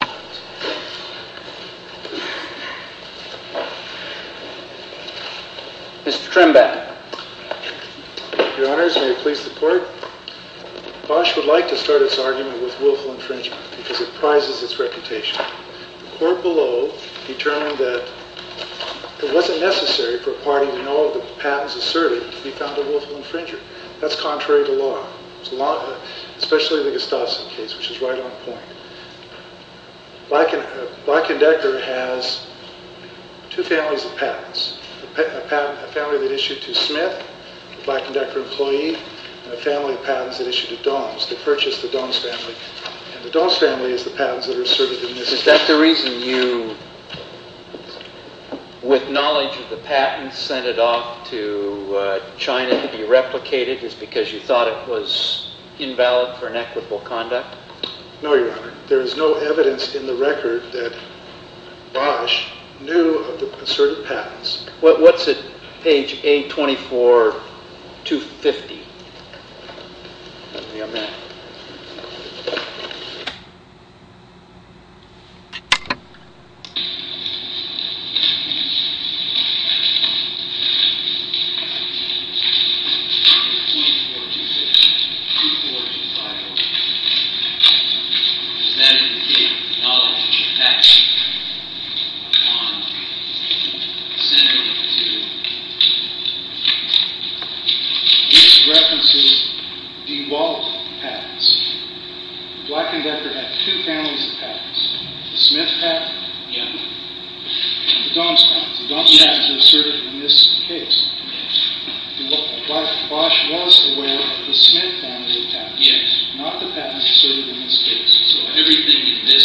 Mr. Trembath Your Honors, may it please the Court, Bosch would like to start its argument with willful infringement because it prizes its reputation. The Court below determined that it wasn't necessary for a party to know that the patent is asserted to be found a willful infringer. That's contrary to law, especially the Gustafson case, which is right on point. Black & Decker has two families of patents. A family that issued to Smith, a Black & Decker employee, and a family of patents that issued to Dom's that purchased the Dom's family. And the Dom's family is the patents that are asserted in this case. Is that the reason you, with knowledge of the patents, sent it off to China to be replicated? Is it because you thought it was invalid for inequitable conduct? No, Your Honor. There is no evidence in the record that Bosch knew of the asserted patents. What's at page 824-250? This references DeWalt patents. Black & Decker had two families of patents. The Smith family and the Dom's family. The Dom's patents are asserted in this case. Bosch was aware of the Smith family of patents, not the patents asserted in this case. So everything in this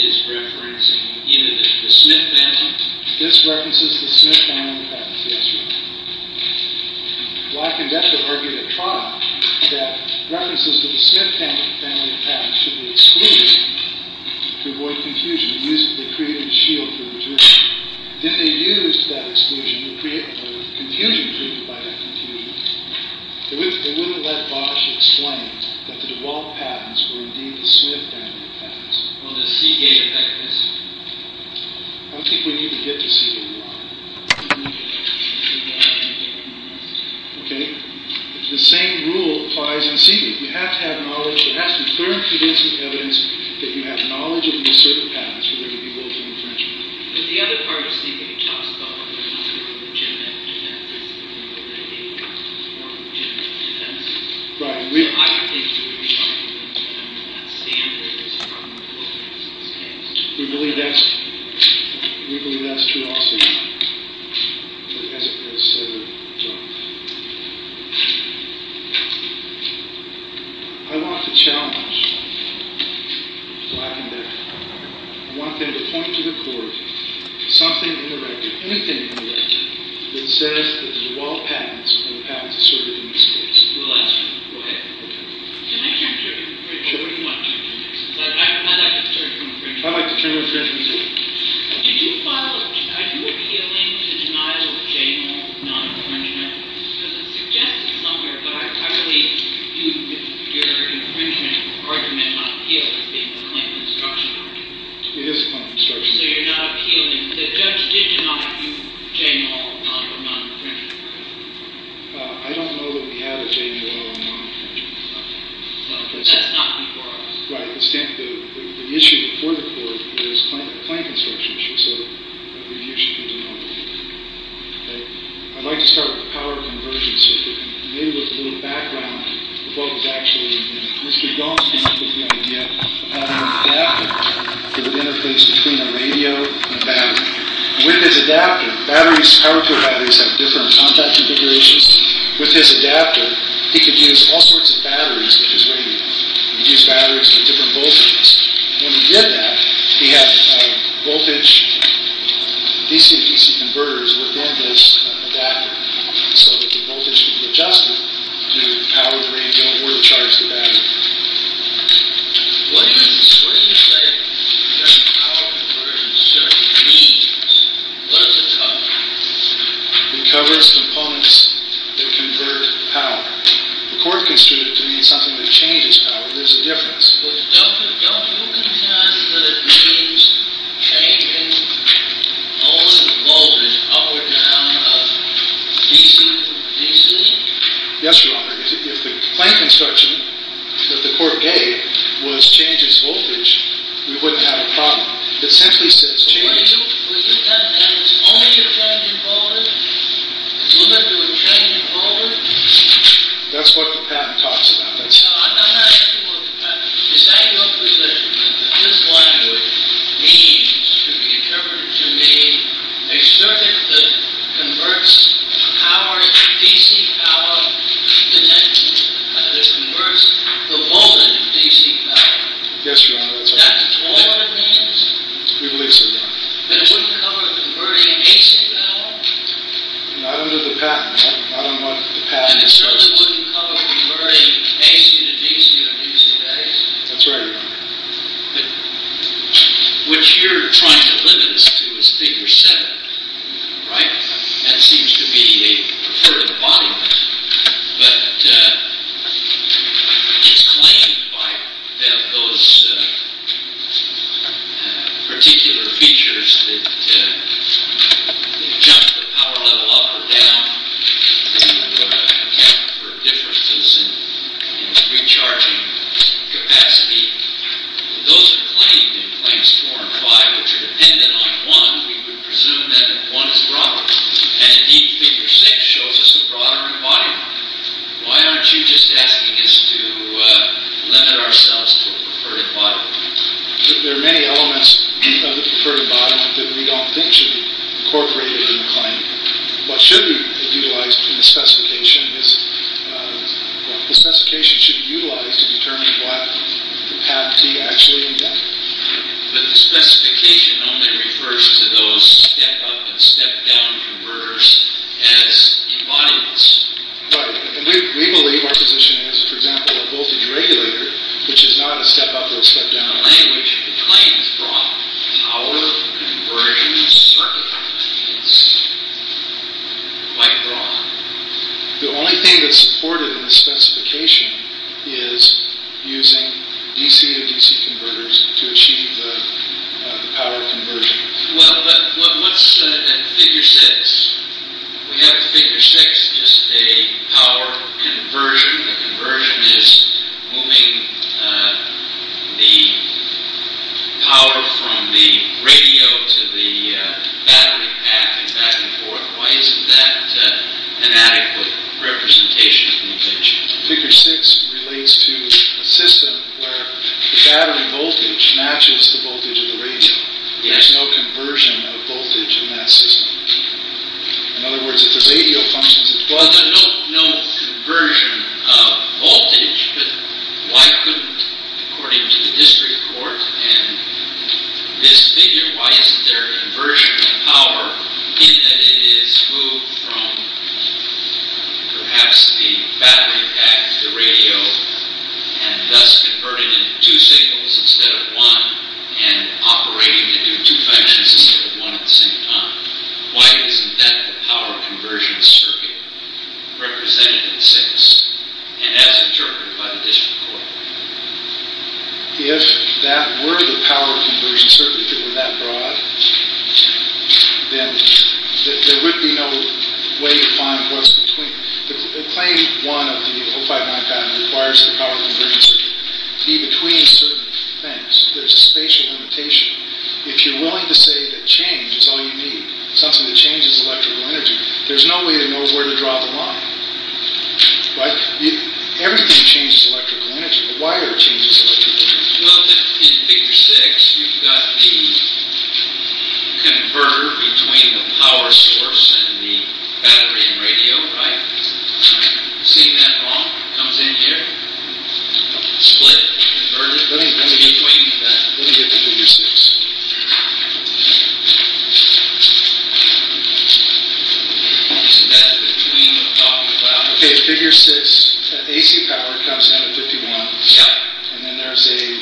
is referencing either the Smith family This references the Smith family of patents, yes, Your Honor. Black & Decker argued at trial that references to the Smith family of patents should be excluded to avoid confusion. They created a shield for the majority. Then they used that exclusion to create confusion driven by that confusion. They wouldn't have let Bosch explain that the DeWalt patents were indeed the Smith family of patents. Well, does Seagate affect this? I don't think we need to get to Seagate, Your Honor. The same rule applies in Seagate. You have to have knowledge. There has to be clear and convincing evidence that you have knowledge of the asserted patents of the DeWalt family of patents. But the other part of Seagate talks about whether or not they were legitimate defenses. Whether or not they were legitimate defenses. Right. I don't think we need to get to Seagate, Your Honor. That standard is from the DeWalt patents in this case. We believe that's true also, Your Honor. I want to challenge Black & Decker. I want them to point to the court, something in the record, anything in the record, that says that the DeWalt patents are the patents asserted in this case. We'll ask them. Go ahead. Can I turn to infringement? Sure. I'd like to turn to infringement. I'd like to turn to infringement, too. Did you file a, are you appealing to denial of general non-infringement? Because it's suggested somewhere, but I really do, with your infringement argument, not appeal. It's being a claim of obstruction. It is a claim of obstruction. So you're not appealing. The judge did deny you general non-infringement. I don't know that we have a general non-infringement. Okay. But that's not before us. Right. The issue before the court is a claim of obstruction. So the review should be denied. Okay. I'd like to start with power convergences. Maybe with a little background of what was actually in it. Mr. Gonsalves was going to get an adapter for the interface between a radio and a battery. With his adapter, batteries, power cord batteries have different contact configurations. With his adapter, he could use all sorts of batteries with his radio. He could use batteries with different voltages. When he did that, he had voltage DC-to-DC converters within his adapter so that the voltage could be adjusted to power the radio or to charge the battery. What do you say that a power convergent circuit means? What does it cover? It covers components that convert power. The court considered it to mean something that changes power. There's a difference. But don't you consider that it means changing all the voltages up or down of DC-to-DC? Yes, Your Honor. If the plant construction that the court gave was changes voltage, we wouldn't have a problem. It simply says changes. Were you telling me that it's only a changing voltage? It's limited to a changing voltage? That's what the patent talks about. No, I'm not asking about the patent. Is that your position, that this language means, to be interpreted to mean, a circuit that converts DC power to voltage DC power? Yes, Your Honor. That's all it means? We believe so, Your Honor. That it wouldn't cover converting AC power? Not under the patent. And it certainly wouldn't cover converting AC to DC in DC days? That's right, Your Honor. But what you're trying to limit us to is figure 7, right? That seems to be a preferred embodiment. But it's claimed by those particular features that jump the power level up or down to account for differences in recharging capacity. Those are claimed in Claims 4 and 5, which are dependent on 1. We would presume that 1 is broader. And indeed, Figure 6 shows us a broader embodiment. Why aren't you just asking us to limit ourselves to a preferred embodiment? There are many elements of the preferred embodiment that we don't think should be incorporated in the claim. What should be utilized in the specification is, the specification should be utilized to determine what the patentee actually intended. But the specification only refers to those step-up and step-down converters as embodiments. Right. And we believe our position is, for example, a voltage regulator, which is not a step-up or a step-down. The language of the claim is broad. Power conversion circuitry is quite broad. The only thing that's supported in the specification is using DC to DC converters to achieve the power conversion. Well, but what's in Figure 6? We have in Figure 6 just a power conversion. A conversion is moving the power from the radio to the battery pack and back and forth. Why isn't that an adequate representation of voltage? Figure 6 relates to a system where the battery voltage matches the voltage of the radio. There's no conversion of voltage in that system. In other words, if the radio functions at 12 volts... There's no conversion of voltage. But why couldn't, according to the district court and this figure, why isn't there a conversion of power in that it is moved from perhaps the battery pack to the radio and thus converted into two signals instead of one and operating into two functions instead of one at the same time? Why isn't that the power conversion circuit represented in 6? And as interpreted by the district court. If that were the power conversion circuit, if it were that broad, then there would be no way to find what's between. Claim 1 of the 059 patent requires the power conversion to be between certain things. There's a spatial limitation. If you're willing to say that change is all you need, something that changes electrical energy, there's no way to know where to draw the line. Everything changes electrical energy. The wire changes electrical energy. Well, in figure 6, you've got the converter between the power source and the battery and radio, right? You've seen that wrong. It comes in here, split, converted. Let me get to figure 6. Isn't that between the top and the bottom? Okay, figure 6. AC power comes out of 51. Yeah. And then there's a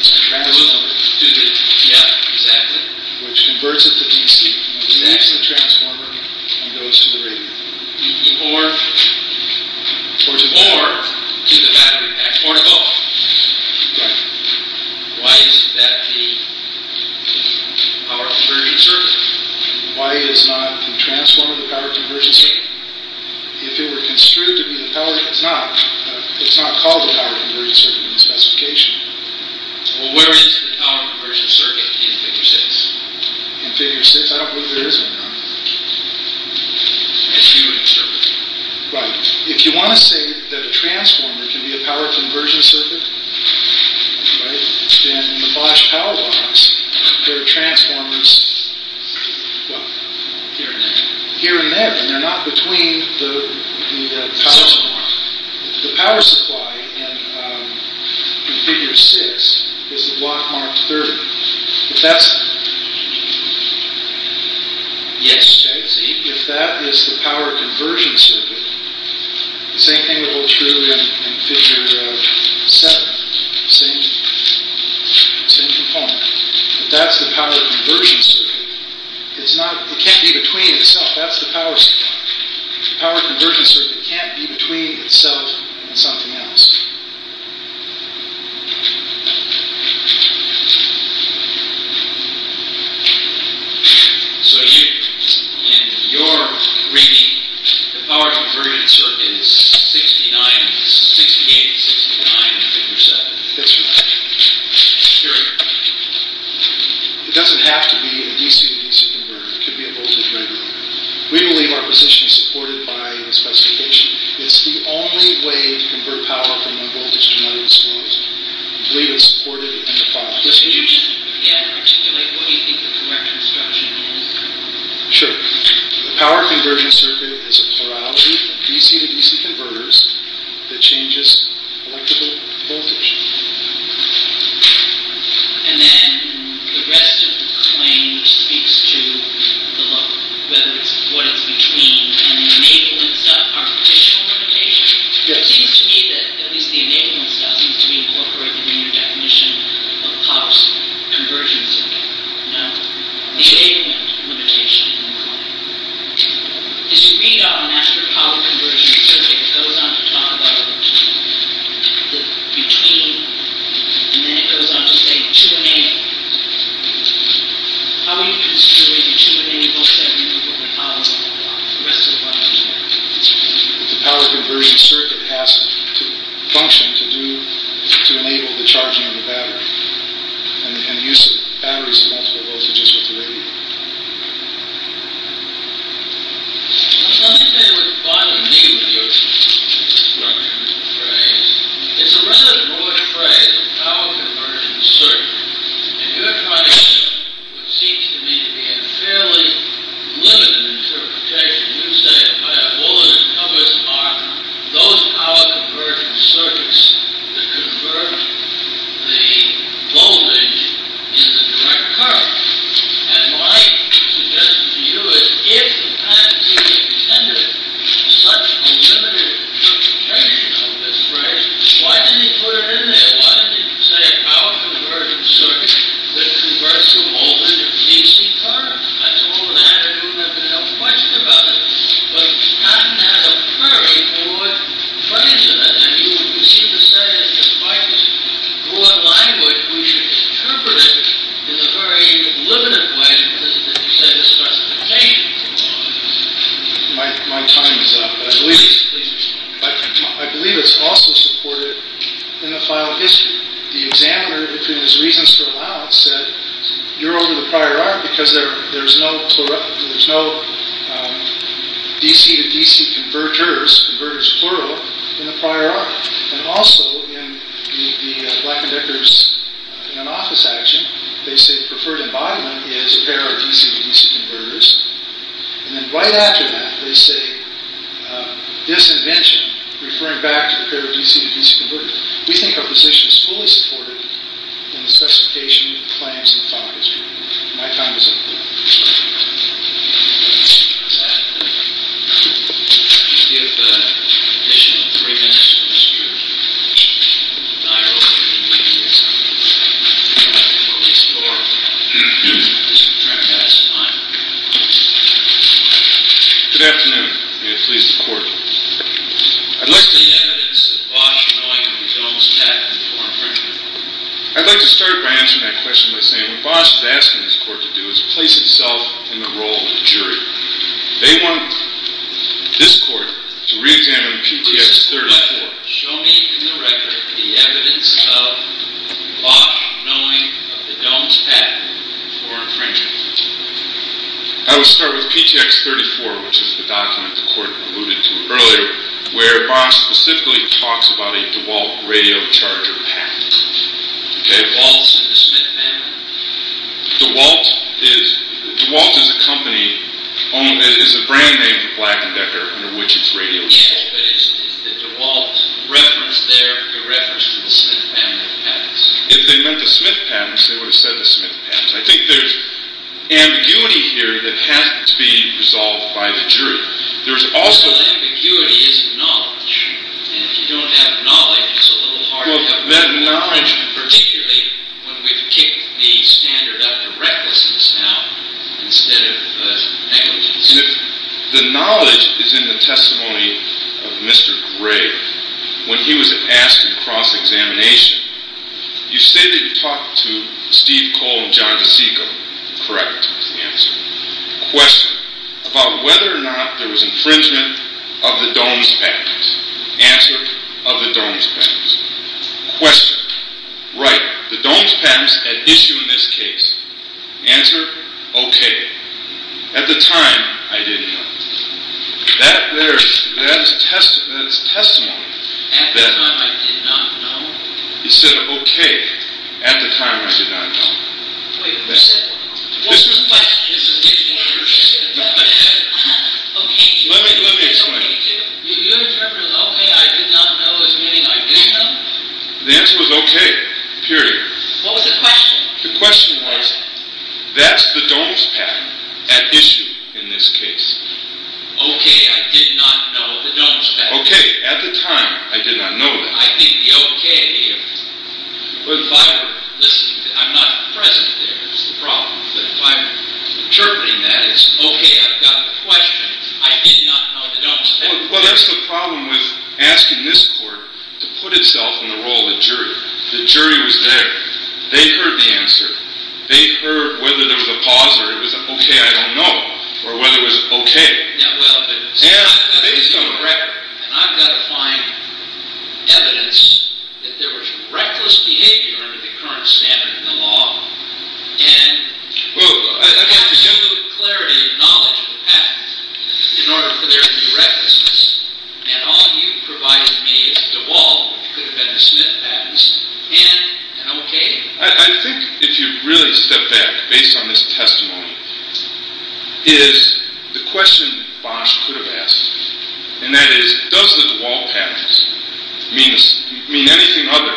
transformer. Yeah, exactly. Which converts it to DC. It connects to the transformer and goes to the radio. Or to the battery pack. Or both. Right. Why is that the power conversion circuit? Why is not the transformer the power conversion circuit? If it were construed to be the power... It's not. It's not called the power conversion circuit in the specification. Well, where is the power conversion circuit in figure 6? In figure 6? I don't believe there is one, no. As you would observe it. Right. If you want to say that a transformer can be a power conversion circuit, right? Then in the Bosch power box, there are transformers here and there. Here and there. And they're not between the power supply. The power supply in figure 6 is the block marked 30. If that's... Yes. Okay, see? If that is the power conversion circuit, the same thing will hold true in figure 7. Same component. If that's the power conversion circuit, it can't be between itself. That's the power supply. The power conversion circuit can't be between itself and something else. So, in your reading, the power conversion circuit is 68 and 69 in figure 7? That's right. Period. It doesn't have to be a DC to DC converter. It could be a voltage regulator. We believe our position is supported by the specification. It's the only way to convert power from DC to DC. We believe it's supported in the file. Could you just, again, articulate what you think the correct instruction is? Sure. The power conversion circuit is a plurality of DC to DC converters that changes electrical voltage. And then the rest of the claim speaks to the look. Whether it's what it's between. And maybe it's an architectural limitation. It seems to me that, at least the enablement stuff, seems to be incorporated in your definition of power conversion circuit. No. The enablement limitation. This readout of an actual power conversion circuit goes on to talk about the between. And then it goes on to say 2 and 8. How are you construing a 2 and 8 voltage that removes what the power supply is there? The power conversion circuit has to function to enable the charging of the battery. And the use of batteries in multiple voltages with the radio. Let me say the final name of your instruction phrase. It's a rather broad phrase. Power conversion circuit. And you're trying to use what seems to me to be a fairly limited interpretation. You say, well, all it covers are those power conversion circuits that convert the voltage in the direct current. And my suggestion to you is, if the plan C intended such a limited interpretation of this phrase, why didn't he put it in there? Why didn't he say power conversion circuit that converts the voltage in DC current? I told him that. I knew there had been a question about it. But Scott didn't have a flurry for what he put into it. And you seem to say that despite this broad language, we should interpret it in a very limited way. Because, as you said, it starts to change. My time is up. But I believe it's also supported in the file of history. The examiner, between his reasons for allowance, said you're over the prior art because there's no DC to DC converters, converters plural, in the prior art. And also in the Black & Decker's in an office action, they say preferred embodiment is a pair of DC to DC converters. And then right after that, they say disinvention, referring back to a pair of DC to DC converters. We think our position is fully supported in the specification of the claims in the file of history. My time is up. Thank you. Could you give additional three minutes to Mr. Dyer over the media? Or Mr. Trimac has time. Good afternoon. May it please the Court. What's the evidence of Bosch knowing of the Dohm's patent for infringement? I'd like to start by answering that question by saying what Bosch is asking this Court to do is place itself in the role of jury. They want this Court to re-examine PTX 34. Show me in the record the evidence of Bosch knowing of the Dohm's patent for infringement. I would start with PTX 34, which is the document the Court alluded to earlier, where Bosch specifically talks about a DeWalt radio charger patent. DeWalt's in the Smith family? DeWalt is a company, is a brand name for Black & Decker, under which it's radio-controlled. Yeah, but is the DeWalt reference there a reference to the Smith family patents? If they meant the Smith patents, they would have said the Smith patents. I think there's ambiguity here that has to be resolved by the jury. There's also ambiguity in knowledge, and if you don't have knowledge, it's a little hard to have knowledge, particularly when we've kicked the standard up to recklessness now instead of negligence. The knowledge is in the testimony of Mr. Gray when he was asked in cross-examination. You say that you talked to Steve Cole and John DiCicco. Correct. Answer. Question. About whether or not there was infringement of the Dohm's patents. Answer. Of the Dohm's patents. Question. Right. The Dohm's patents at issue in this case. Answer. Okay. At the time, I didn't know. That there, that is testimony. At the time, I did not know? He said, okay. At the time, I did not know. Wait. What's the question? Answer. Okay. Let me explain. You interpreted okay, I did not know as meaning I didn't know? The answer was okay. Period. What was the question? The question was that's the Dohm's patent at issue in this case. Okay. I did not know the Dohm's patent. Okay. At the time, I did not know that. I think the okay, if I were listening, I'm not present there is the problem. But if I'm interpreting that, it's okay, I've got the question. I did not know the Dohm's patent. Well, that's the problem with asking this court to put itself in the role of the jury. The jury was there. They heard the answer. They heard whether there was a pause or it was okay, I don't know. Or whether it was okay. Based on the record. And I've got to find evidence that there was reckless behavior under the current standard in the law. And absolute clarity and knowledge of the patent in order for there to be recklessness. And all you provided me is the DeWalt, which could have been the Smith patents, and an okay. I think if you really step back, based on this testimony, is the question Bosch could have asked. And that is, does the DeWalt patents mean anything other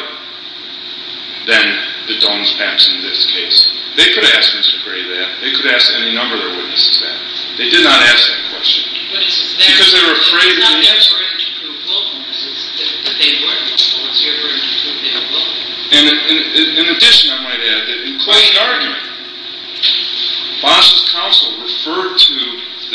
than the Dohm's patents in this case? They could have asked Mr. Gray that. They could have asked any number of other witnesses that. They did not ask that question. Because they were afraid. It's not their turn to prove willfulness. It's that they weren't willful. It's your turn to prove they were willful. In addition, I might add that in Clay's argument, Bosch's counsel referred to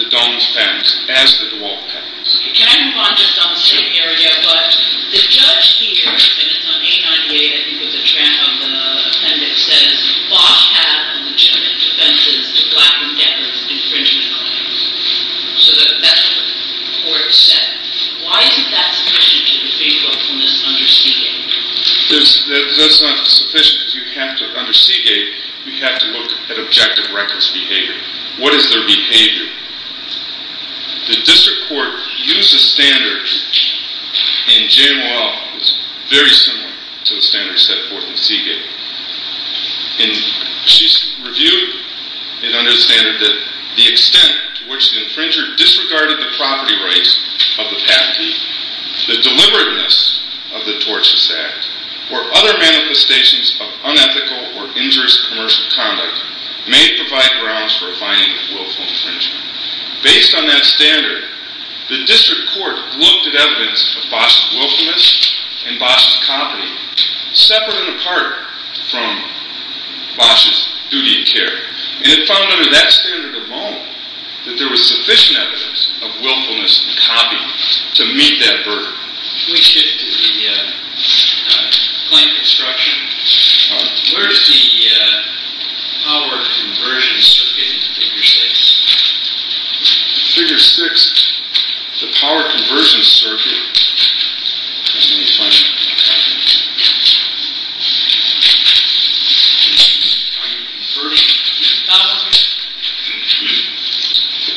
the Dohm's patents as the DeWalt patents. Can I move on just on the same area? But the judge here, and it's on 898, I think it was a tramp on the appendix, says Bosch had legitimate defenses to Black and Denver's infringement claims. So that's what the court said. Why isn't that sufficient to defend willfulness under Seagate? That's not sufficient because you have to, under Seagate, you have to look at objective reckless behavior. What is their behavior? The district court used a standard, and JMOL is very similar to the standards set forth in Seagate. And she reviewed and understanded that the extent to which the infringer disregarded the property rights of the patentee, the deliberateness of the tortious act, or other manifestations of unethical or injurious commercial conduct may provide grounds for a finding of willful infringement. Based on that standard, the district court looked at evidence of Bosch's willfulness and Bosch's copy, separate and apart from Bosch's duty of care. And it found under that standard alone that there was sufficient evidence of willfulness and copy to meet that burden. Let me shift to the claim construction. Where is the power conversion circuit in Figure 6? Figure 6, the power conversion circuit. The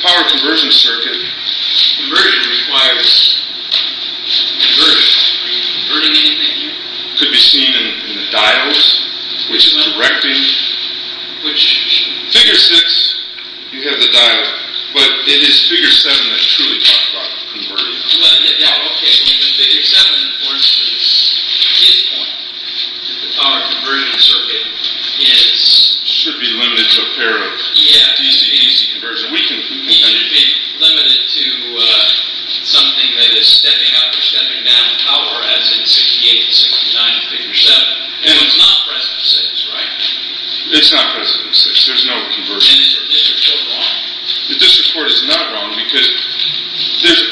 power conversion circuit. Conversion requires. Could be seen in the dials. Figure 6, you have the dial. But it is Figure 7 that truly talks about converting. Well, yeah, okay. Figure 7, for instance, his point that the power conversion circuit is. Should be limited to a pair of. Yeah. Easy conversion. We can. Limited to something that is stepping up or stepping down in power as in 68 and 69 in Figure 7. It's not present in 6, right? It's not present in 6. There's no conversion. And is the district court wrong? The district court is not wrong because there's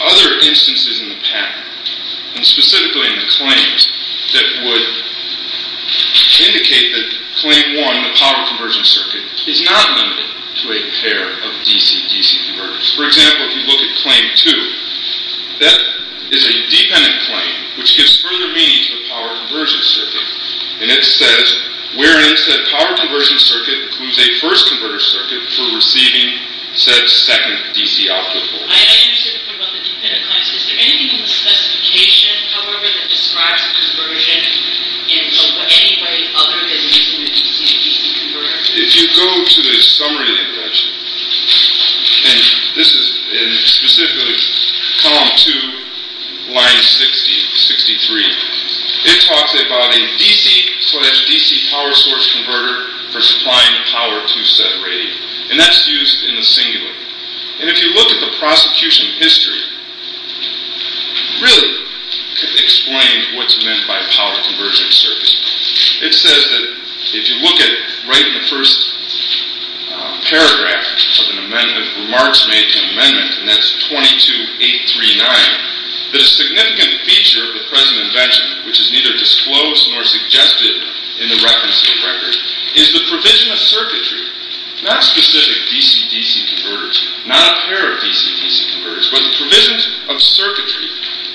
other instances in the patent and specifically in the claims that would indicate that claim 1, the power conversion circuit, is not limited to a pair of DC-DC converters. For example, if you look at claim 2, that is a dependent claim which gives further meaning to the power conversion circuit. And it says, wherein said power conversion circuit includes a first converter circuit for receiving said second DC output voltage. I understand the point about the dependent claims. Is there anything in the specification, however, that describes conversion in any way other than using the DC-DC converters? If you go to the summary of the invention, and this is specifically column 2, line 63, it talks about a DC-DC power source converter for supplying power to said rating. And that's used in the singular. And if you look at the prosecution history, it really explains what's meant by a power conversion circuit. It says that if you look at right in the first paragraph of an amendment, remarks made to an amendment, and that's 22.839, that a significant feature of the present invention, which is neither disclosed nor suggested in the reference to the record, is the provision of circuitry, not specific DC-DC converters, not a pair of DC-DC converters, but the provision of circuitry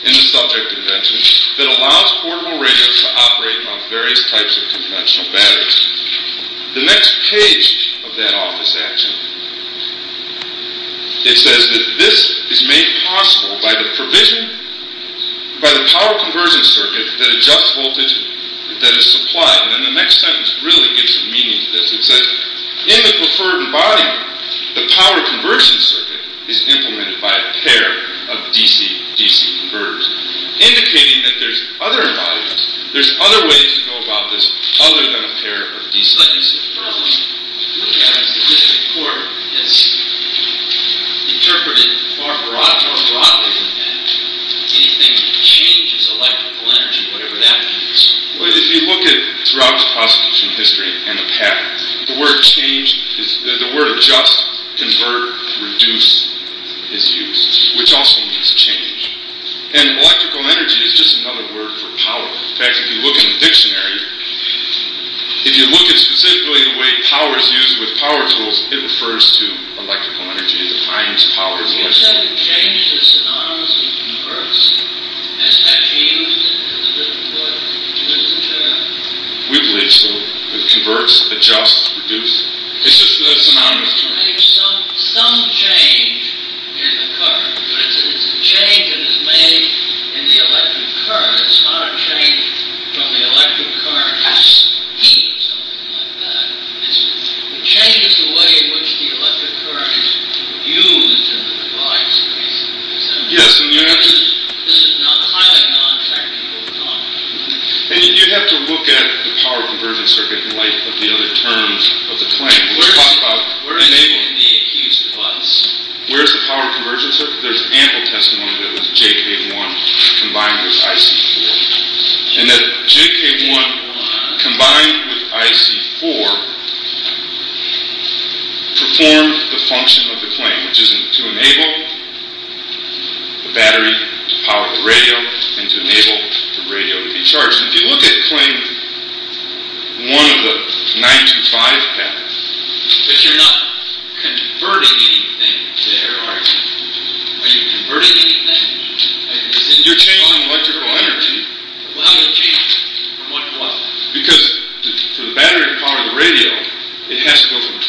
in the subject invention that allows portable radios to operate on various types of conventional batteries. The next page of that office action, it says that this is made possible by the provision, by the power conversion circuit that adjusts voltage that is supplied. And then the next sentence really gives some meaning to this. It says, in the preferred embodiment, the power conversion circuit is implemented by a pair of DC-DC converters, indicating that there's other embodiments, there's other ways to go about this other than a pair of DC-DC converters. If you look at it as a district court, it's interpreted far more broadly than that. Anything that changes electrical energy, whatever that means. If you look at throughout the prosecution history and the past, the word change, the word adjust, convert, reduce is used, which also means change. And electrical energy is just another word for power. In fact, if you look in the dictionary, if you look at specifically the way power is used with power tools, it refers to electrical energy. It defines power as electrical energy. It's not a change, it's synonymous with converts, as has been used as a different word. We believe so. Converts, adjust, reduce. It's just a synonymous term. Some change can occur. But it's a change that is made in the electric current. It's not a change from the electric current as heat or something like that. It changes the way in which the electric current is used in the device, basically. This is highly non-practical talk. And you have to look at the power conversion circuit in light of the other terms of the claim. We're talking about, we're enabling. In the accused device. Where's the power conversion circuit? There's ample testimony that it was JK1 combined with IC4. And that JK1 combined with IC4 performed the function of the claim, which is to enable the battery to power the radio and to enable the radio to be charged. And if you look at claim 1 of the 925 patents, but you're not converting anything there, are you? Are you converting anything? You're changing electrical energy. Well, how do you change it? From what to what? Because for the battery to power the radio, it has to go from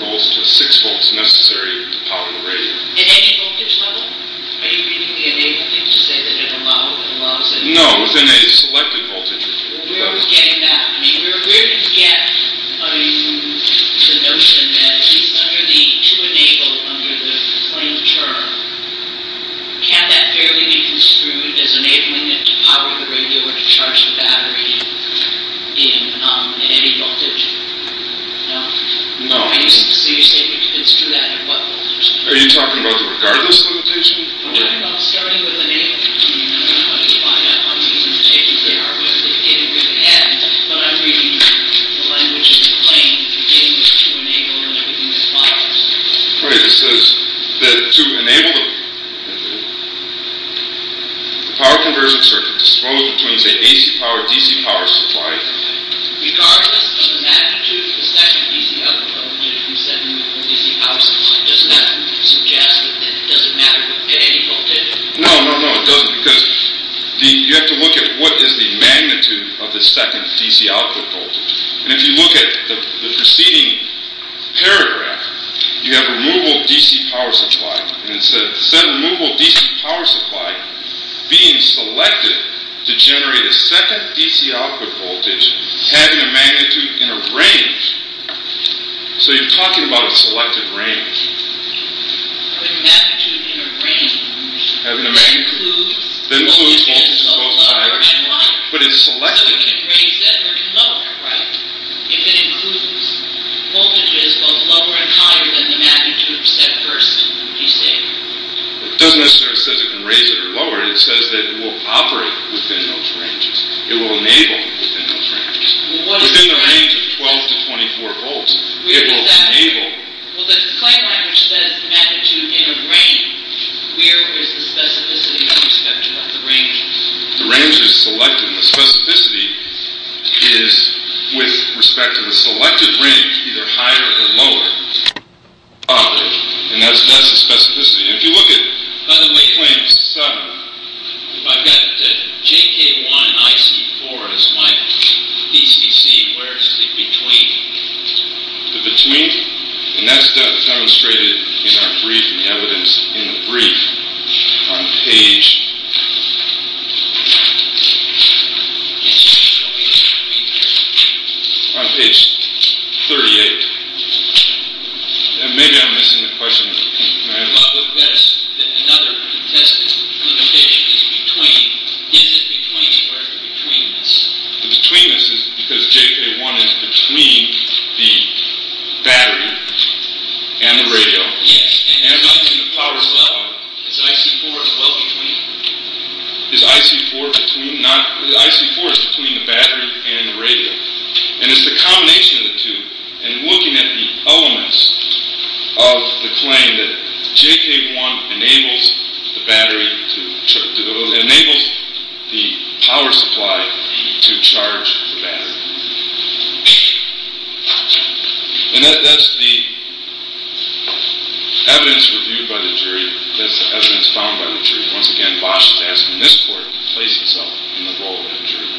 12 to 24 volts to 6 volts necessary to power the radio. At any voltage level? Are you enabling it to say that it allows it? No, within a selected voltage. Where are we getting that? I mean, where did you get the notion that to enable under the claim term, can that barely be construed as enabling it to power the radio or to charge the battery in any voltage? No. So you're saying it's true that at what voltage? Are you talking about regardless of voltage? I'm talking about starting with enabling. I mean, I don't know how to define that. I'm just going to take it there. But I'm reading the language in the claim, beginning with to enable and everything that follows. Right. It says that to enable the power conversion circuit disposed between, say, AC power and DC power supply. Regardless of the magnitude of the second DC output coming in from the second DC power supply. Doesn't that suggest that it doesn't matter at any voltage? No, no, no, it doesn't. Because you have to look at what is the magnitude of the second DC output voltage. And if you look at the preceding paragraph, you have removal of DC power supply. And it says, set removal of DC power supply being selected to generate a second DC output voltage having a magnitude in a range. So you're talking about a selected range. Having a magnitude in a range. Having a magnitude. That includes voltages both lower and higher. But it's selected. So it can raise it or lower it, right? If it includes voltages both lower and higher than the magnitude of set first DC. It doesn't necessarily say it can raise it or lower it. It says that it will operate within those ranges. It will enable within those ranges. Within the range of 12 to 24 volts, it will enable. Well, the claim language says magnitude in a range. Where is the specificity with respect to the range? The range is selected. And the specificity is with respect to the selected range, either higher or lower. And that's the specificity. If you look at Claim 7. I've got JK1 and IC4 as my DCC. Where is the between? The between? And that's demonstrated in our briefing evidence in the brief on page... On page 38. Maybe I'm missing the question. Another contested limitation is between. Is it between or betweenness? The betweenness is because JK1 is between the battery and the radio. And the power supply. Is IC4 as well between? Is IC4 between? IC4 is between the battery and the radio. And it's the combination of the two. And looking at the elements of the claim, JK1 enables the battery to... It enables the power supply to charge the battery. And that's the evidence reviewed by the jury. That's the evidence found by the jury. Once again, Bosh is asking this court to place itself in the role of the jury.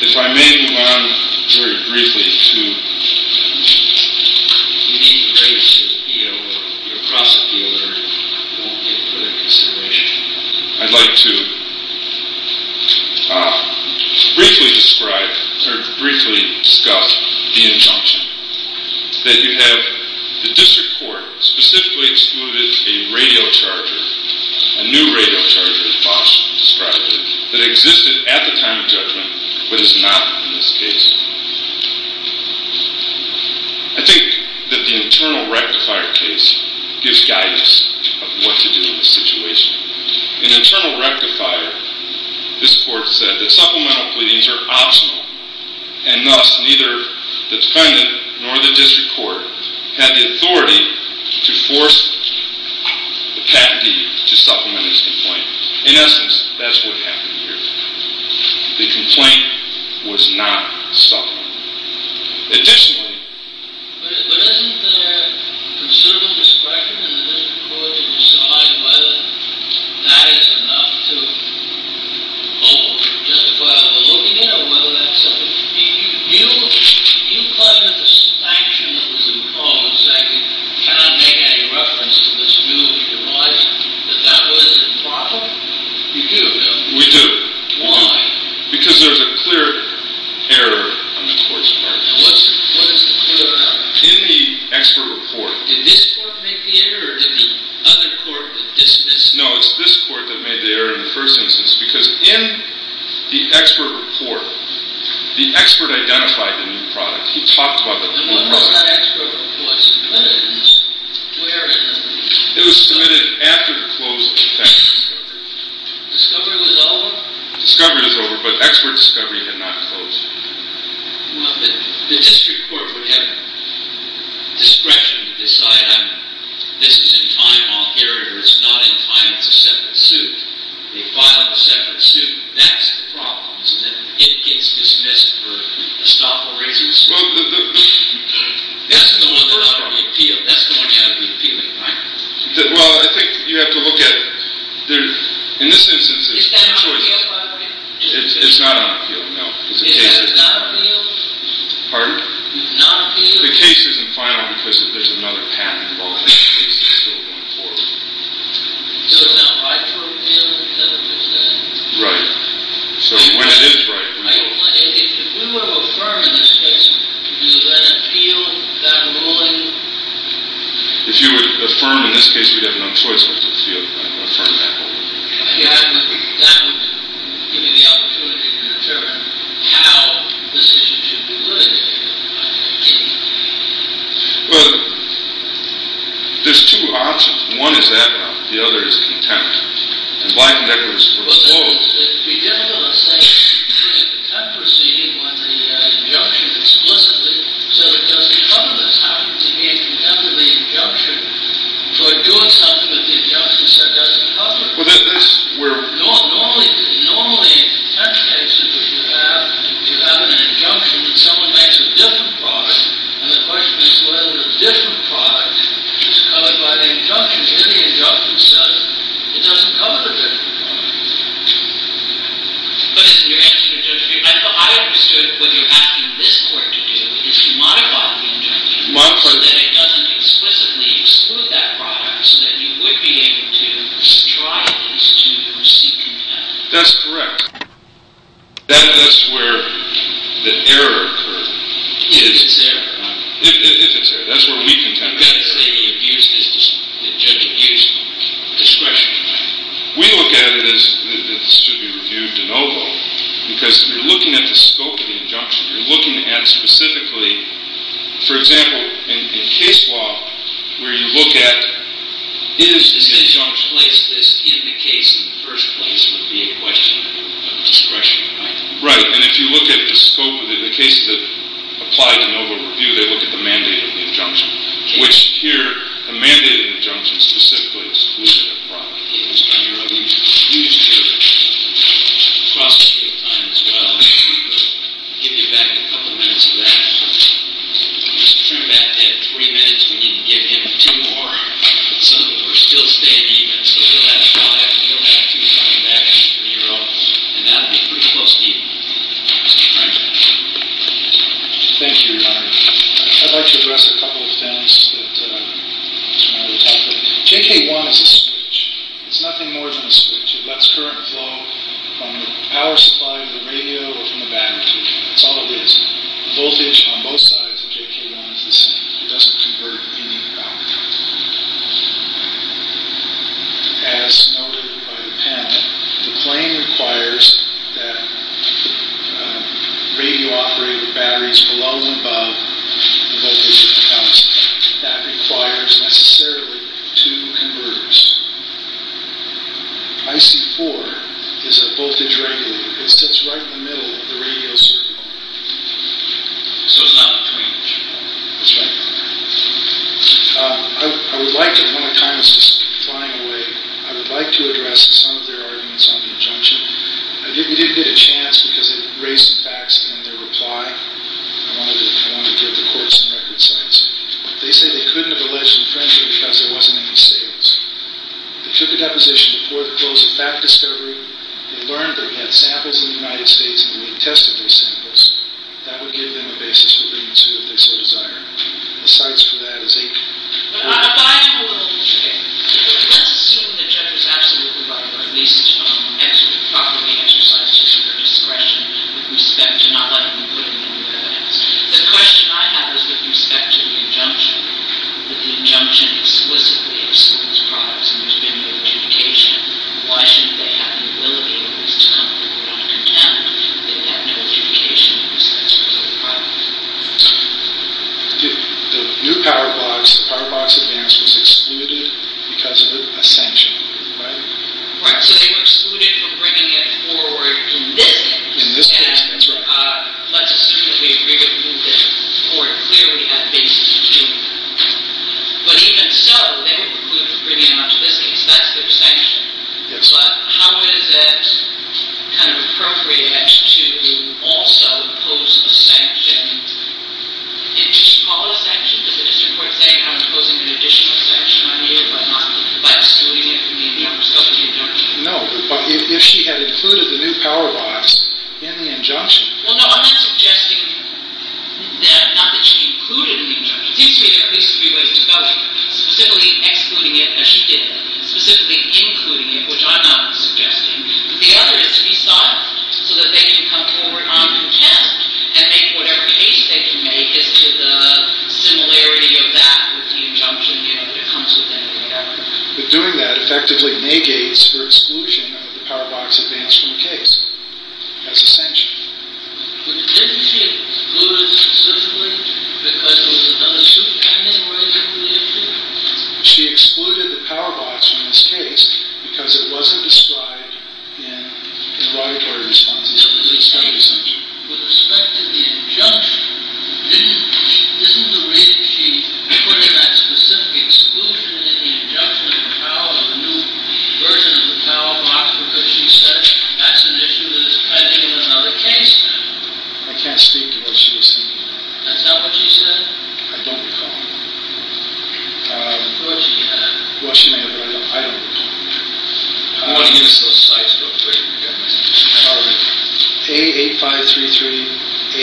If I may move on very briefly to... Your prosecutor won't get further consideration. I'd like to briefly describe... Or briefly discuss the injunction. That you have... The district court specifically excluded a radio charger. A new radio charger, as Bosh described it. That existed at the time of judgment. But is not in this case. I think that the internal rectifier case... Gives guidance of what to do in this situation. In internal rectifier... This court said that supplemental pleadings are optional. And thus, neither the defendant nor the district court... Had the authority to force the patentee to supplement his complaint. In essence, that's what happened here. The complaint was not supplemented. Additionally... But isn't there considerable discretion in the district court... To decide whether that is enough to... Justify the looking in, or whether that's sufficient? Do you... Do you consider the sanction that was imposed... That you cannot make any reference to this new device... That that was improper? You do, no? We do. Why? Because there's a clear error on the court's part. What is the clear error? In the expert report. Did this court make the error, or did the other court dismiss it? No, it's this court that made the error in the first instance. Because in the expert report... The expert identified the new product. He talked about the new product. And what was that expert report's evidence? Where in the report? It was submitted after the closing of Texas. Discovery was over? Discovery was over, but expert discovery had not closed. The district court would have... Discretion to decide... This is in time, I'll hear it, or it's not in time. It's a separate suit. They filed a separate suit. That's the problem. It gets dismissed for estoppel reasons. Well, the... That's the one that ought to be appealed. Well, I think you have to look at it. In this instance, there's two choices. Is that on appeal, by the way? It's not on appeal, no. It's not on appeal? Pardon? It's not on appeal? The case isn't final because there's another patent involved in the case that's still going forward. So it's not right to appeal? Right. So when it is right... If we were to affirm in this case, do you let it appeal? Is that a ruling? If you would affirm in this case, we'd have no choice but to appeal and affirm that ruling. That would give me the opportunity to determine how this issue should be looked at. Well, there's two options. One is that one. The other is contempt. It would be difficult to say contempt proceeding on the injunction explicitly so that it doesn't cover this. How could you be in contempt of the injunction for doing something that the injunction said doesn't cover? Well, that's where... Normally, in contempt cases, if you have an injunction and someone makes a different product, and the question is whether the different product is covered by the injunction in the injunction said, it doesn't cover the different product. But you're asking the judge to... I understood what you're asking this court to do is to modify the injunction so that it doesn't explicitly exclude that product so that you would be able to try at least to proceed contempt. That's correct. That's where the error occurs. If it's error. If it's error. That's where we contend with error. You've got to say the abuse is discretionary. We look at it as this should be reviewed de novo because you're looking at the scope of the injunction. You're looking at specifically, for example, in case law, where you look at... Is this injunction... Place this in the case in the first place would be a question of discretion, right? Right. And if you look at the scope of the cases that applied de novo review, they look at the mandate of the injunction, which here, the mandate of the injunction specifically excluded a product. Mr. Nero, we need to hear that. Across the table time as well. We'll give you back a couple minutes of that. Mr. Trembath had three minutes. We need to give him two more so that we're still staying even. So he'll have five and he'll have two coming back, Mr. Nero. And that'll be pretty close to even. Mr. Trembath. Thank you, Your Honor. I'd like to address a couple of things that Mr. Nero talked about. JK1 is a switch. It's nothing more than a switch. It lets current flow from the power supply to the radio or from the battery. That's all it is. The voltage on both sides of JK1 is the same. It doesn't convert any power. As noted by the panel, the claim requires that radio-operated batteries below and above the voltage that comes. That requires, necessarily, two converters. IC4 is a voltage regulator. It sits right in the middle of the radio circuit. So it's not between the two. That's right. I would like to, when the time is flying away, I would like to address some of their arguments on the injunction. We didn't get a chance because it raised facts in their reply. I want to give the court some record sites. They say they couldn't have alleged infringement because there wasn't any sales. They took a deposition before the close of that discovery. They learned that we had samples in the United States and we had tested those samples. That would give them a basis for bringing it to, if they so desire. The sites for that is eight. But I will interject. Let's assume the judge was absolutely right, or at least properly exercised her discretion with respect to not letting them put it in their evidence. The question I have is with respect to the injunction, that the injunction explicitly excludes products and there's been no adjudication. Why shouldn't they have the ability at least to come to court on a contempt if they have no adjudication in respect to the product? The new PowerBox, the PowerBox Advance was excluded because of a sanction, right? Right. So they were excluded from bringing it forward in this case. In this case, that's right. And let's assume that we agree with you that the court clearly had a basis to do that. But even so, they were excluded from bringing it on to this case. That's their sanction. Yes. But how is it kind of appropriate to also impose a sanction? Do you call it a sanction? Does the district court say I'm imposing an additional sanction on you by excluding it from the injunction? No, but if she had included the new PowerBox in the injunction. Well, no, I'm not suggesting that. Not that she included it in the injunction. It seems to me there are at least three ways to go. Specifically excluding it, as she did. Specifically including it, which I'm not suggesting. But the other is to be silenced. So that they can come forward on contempt and make whatever case they can make as to the similarity of that with the injunction, you know, that it comes with anything. But doing that effectively negates her exclusion of the PowerBox Advance from the case as a sanction. But didn't she exclude it specifically because there was another suit pending? She excluded the PowerBox from this case because it wasn't described in her auditory responses. I can't speak to what she was thinking. That's not what she said? I don't recall. What she may have. What she may have, but I don't. I don't recall. I want to use those slides real quick. All right. A8533,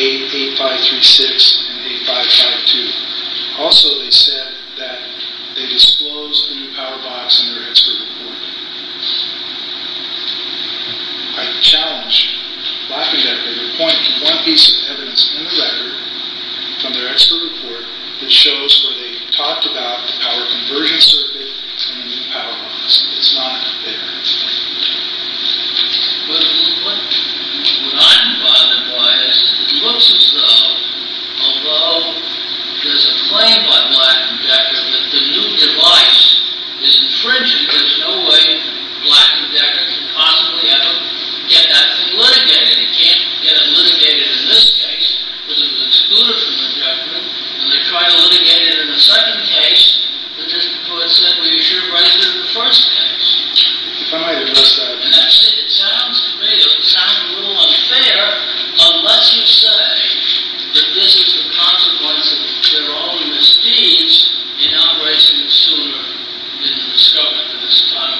A8536, and A552. Also they said that they disclosed the new PowerBox in their expert report. I challenge Black & Decker to point to one piece of evidence in the record from their expert report that shows where they talked about the power conversion circuit and the new PowerBox. It's not there. What I'm bothered by is it looks as though, although there's a claim by Black & Decker that the new device is infringing. There's no way Black & Decker could possibly ever get that thing litigated. It can't get it litigated in this case because it was excluded from the judgment. And they tried to litigate it in the second case. But this court said, well, you should have righted it in the first case. If I might address that. And actually, it sounds real. It sounds a little unfair unless you say that this is the consequence of their own misdeeds in not righting it sooner than it was discovered at this time.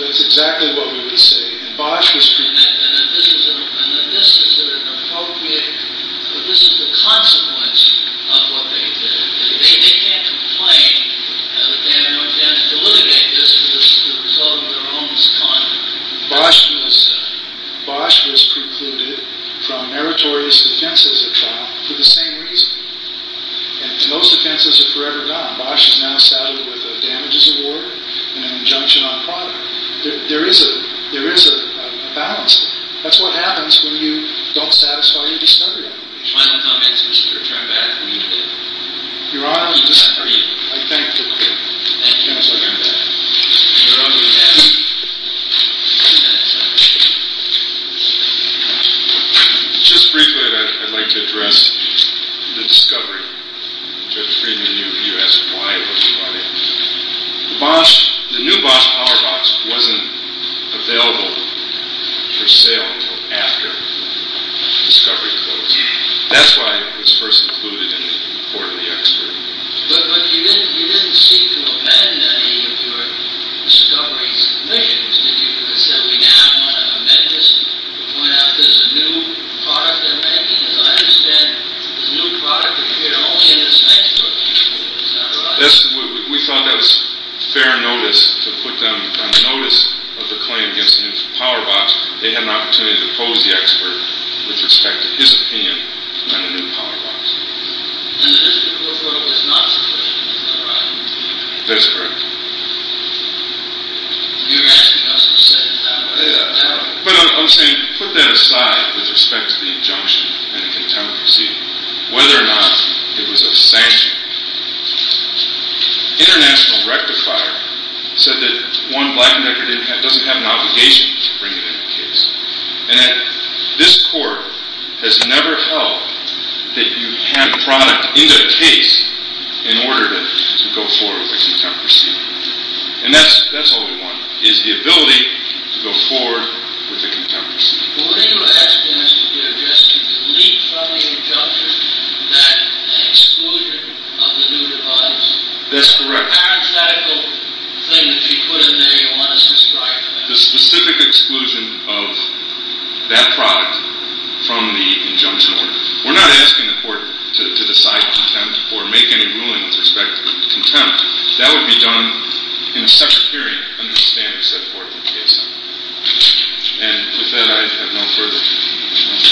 That's exactly what we would say. And Bosch was precluded. And that this is an appropriate, that this is the consequence of what they did. They can't complain that they had no intent to litigate this because it was the result of their own misconduct. Bosch was precluded from meritorious defense as a trial for the same reason. And those defenses are forever gone. Bosch is now saddled with a damages award and an injunction on product. There is a balance. That's what happens when you don't satisfy your discovery obligation. Final comments, Mr. Trembath? Your Honor, I thank the court. Thank you, Mr. Trembath. Your Honor, we have two minutes left. Just briefly, I'd like to address the discovery. Judge Friedman, you asked why it was provided. The new Bosch power box wasn't available for sale until after discovery closed. That's why it was first included in the court of the expert. But you didn't seek to amend any of your discovery's measures, did you? You said we now want to amend this, point out that it's a new product they're making. As I understand, it's a new product that you get only in this textbook. Is that right? We thought that was fair notice to put them on notice of the claim against the new power box. They had an opportunity to pose the expert with respect to his opinion on the new power box. And the district court ruled it was not true, is that right? That's correct. You're asking us to set it that way. But I'm saying put that aside with respect to the injunction and the contempt proceeding, whether or not it was a sanction. International Rectifier said that one black and black doesn't have an obligation to bring it into the case. And this court has never held that you hand product into the case in order to go forward with a contempt proceeding. And that's all we want, is the ability to go forward with a contempt proceeding. But what you're asking us to do is just to delete from the injunction that exclusion of the new device. That's correct. The parenthetical thing that you put in there, you want us to strive for that? The specific exclusion of that product from the injunction order. We're not asking the court to decide contempt or make any ruling with respect to contempt. That would be done in a separate hearing under the standards set forth in the case. And with that, I have no further questions. Thank you.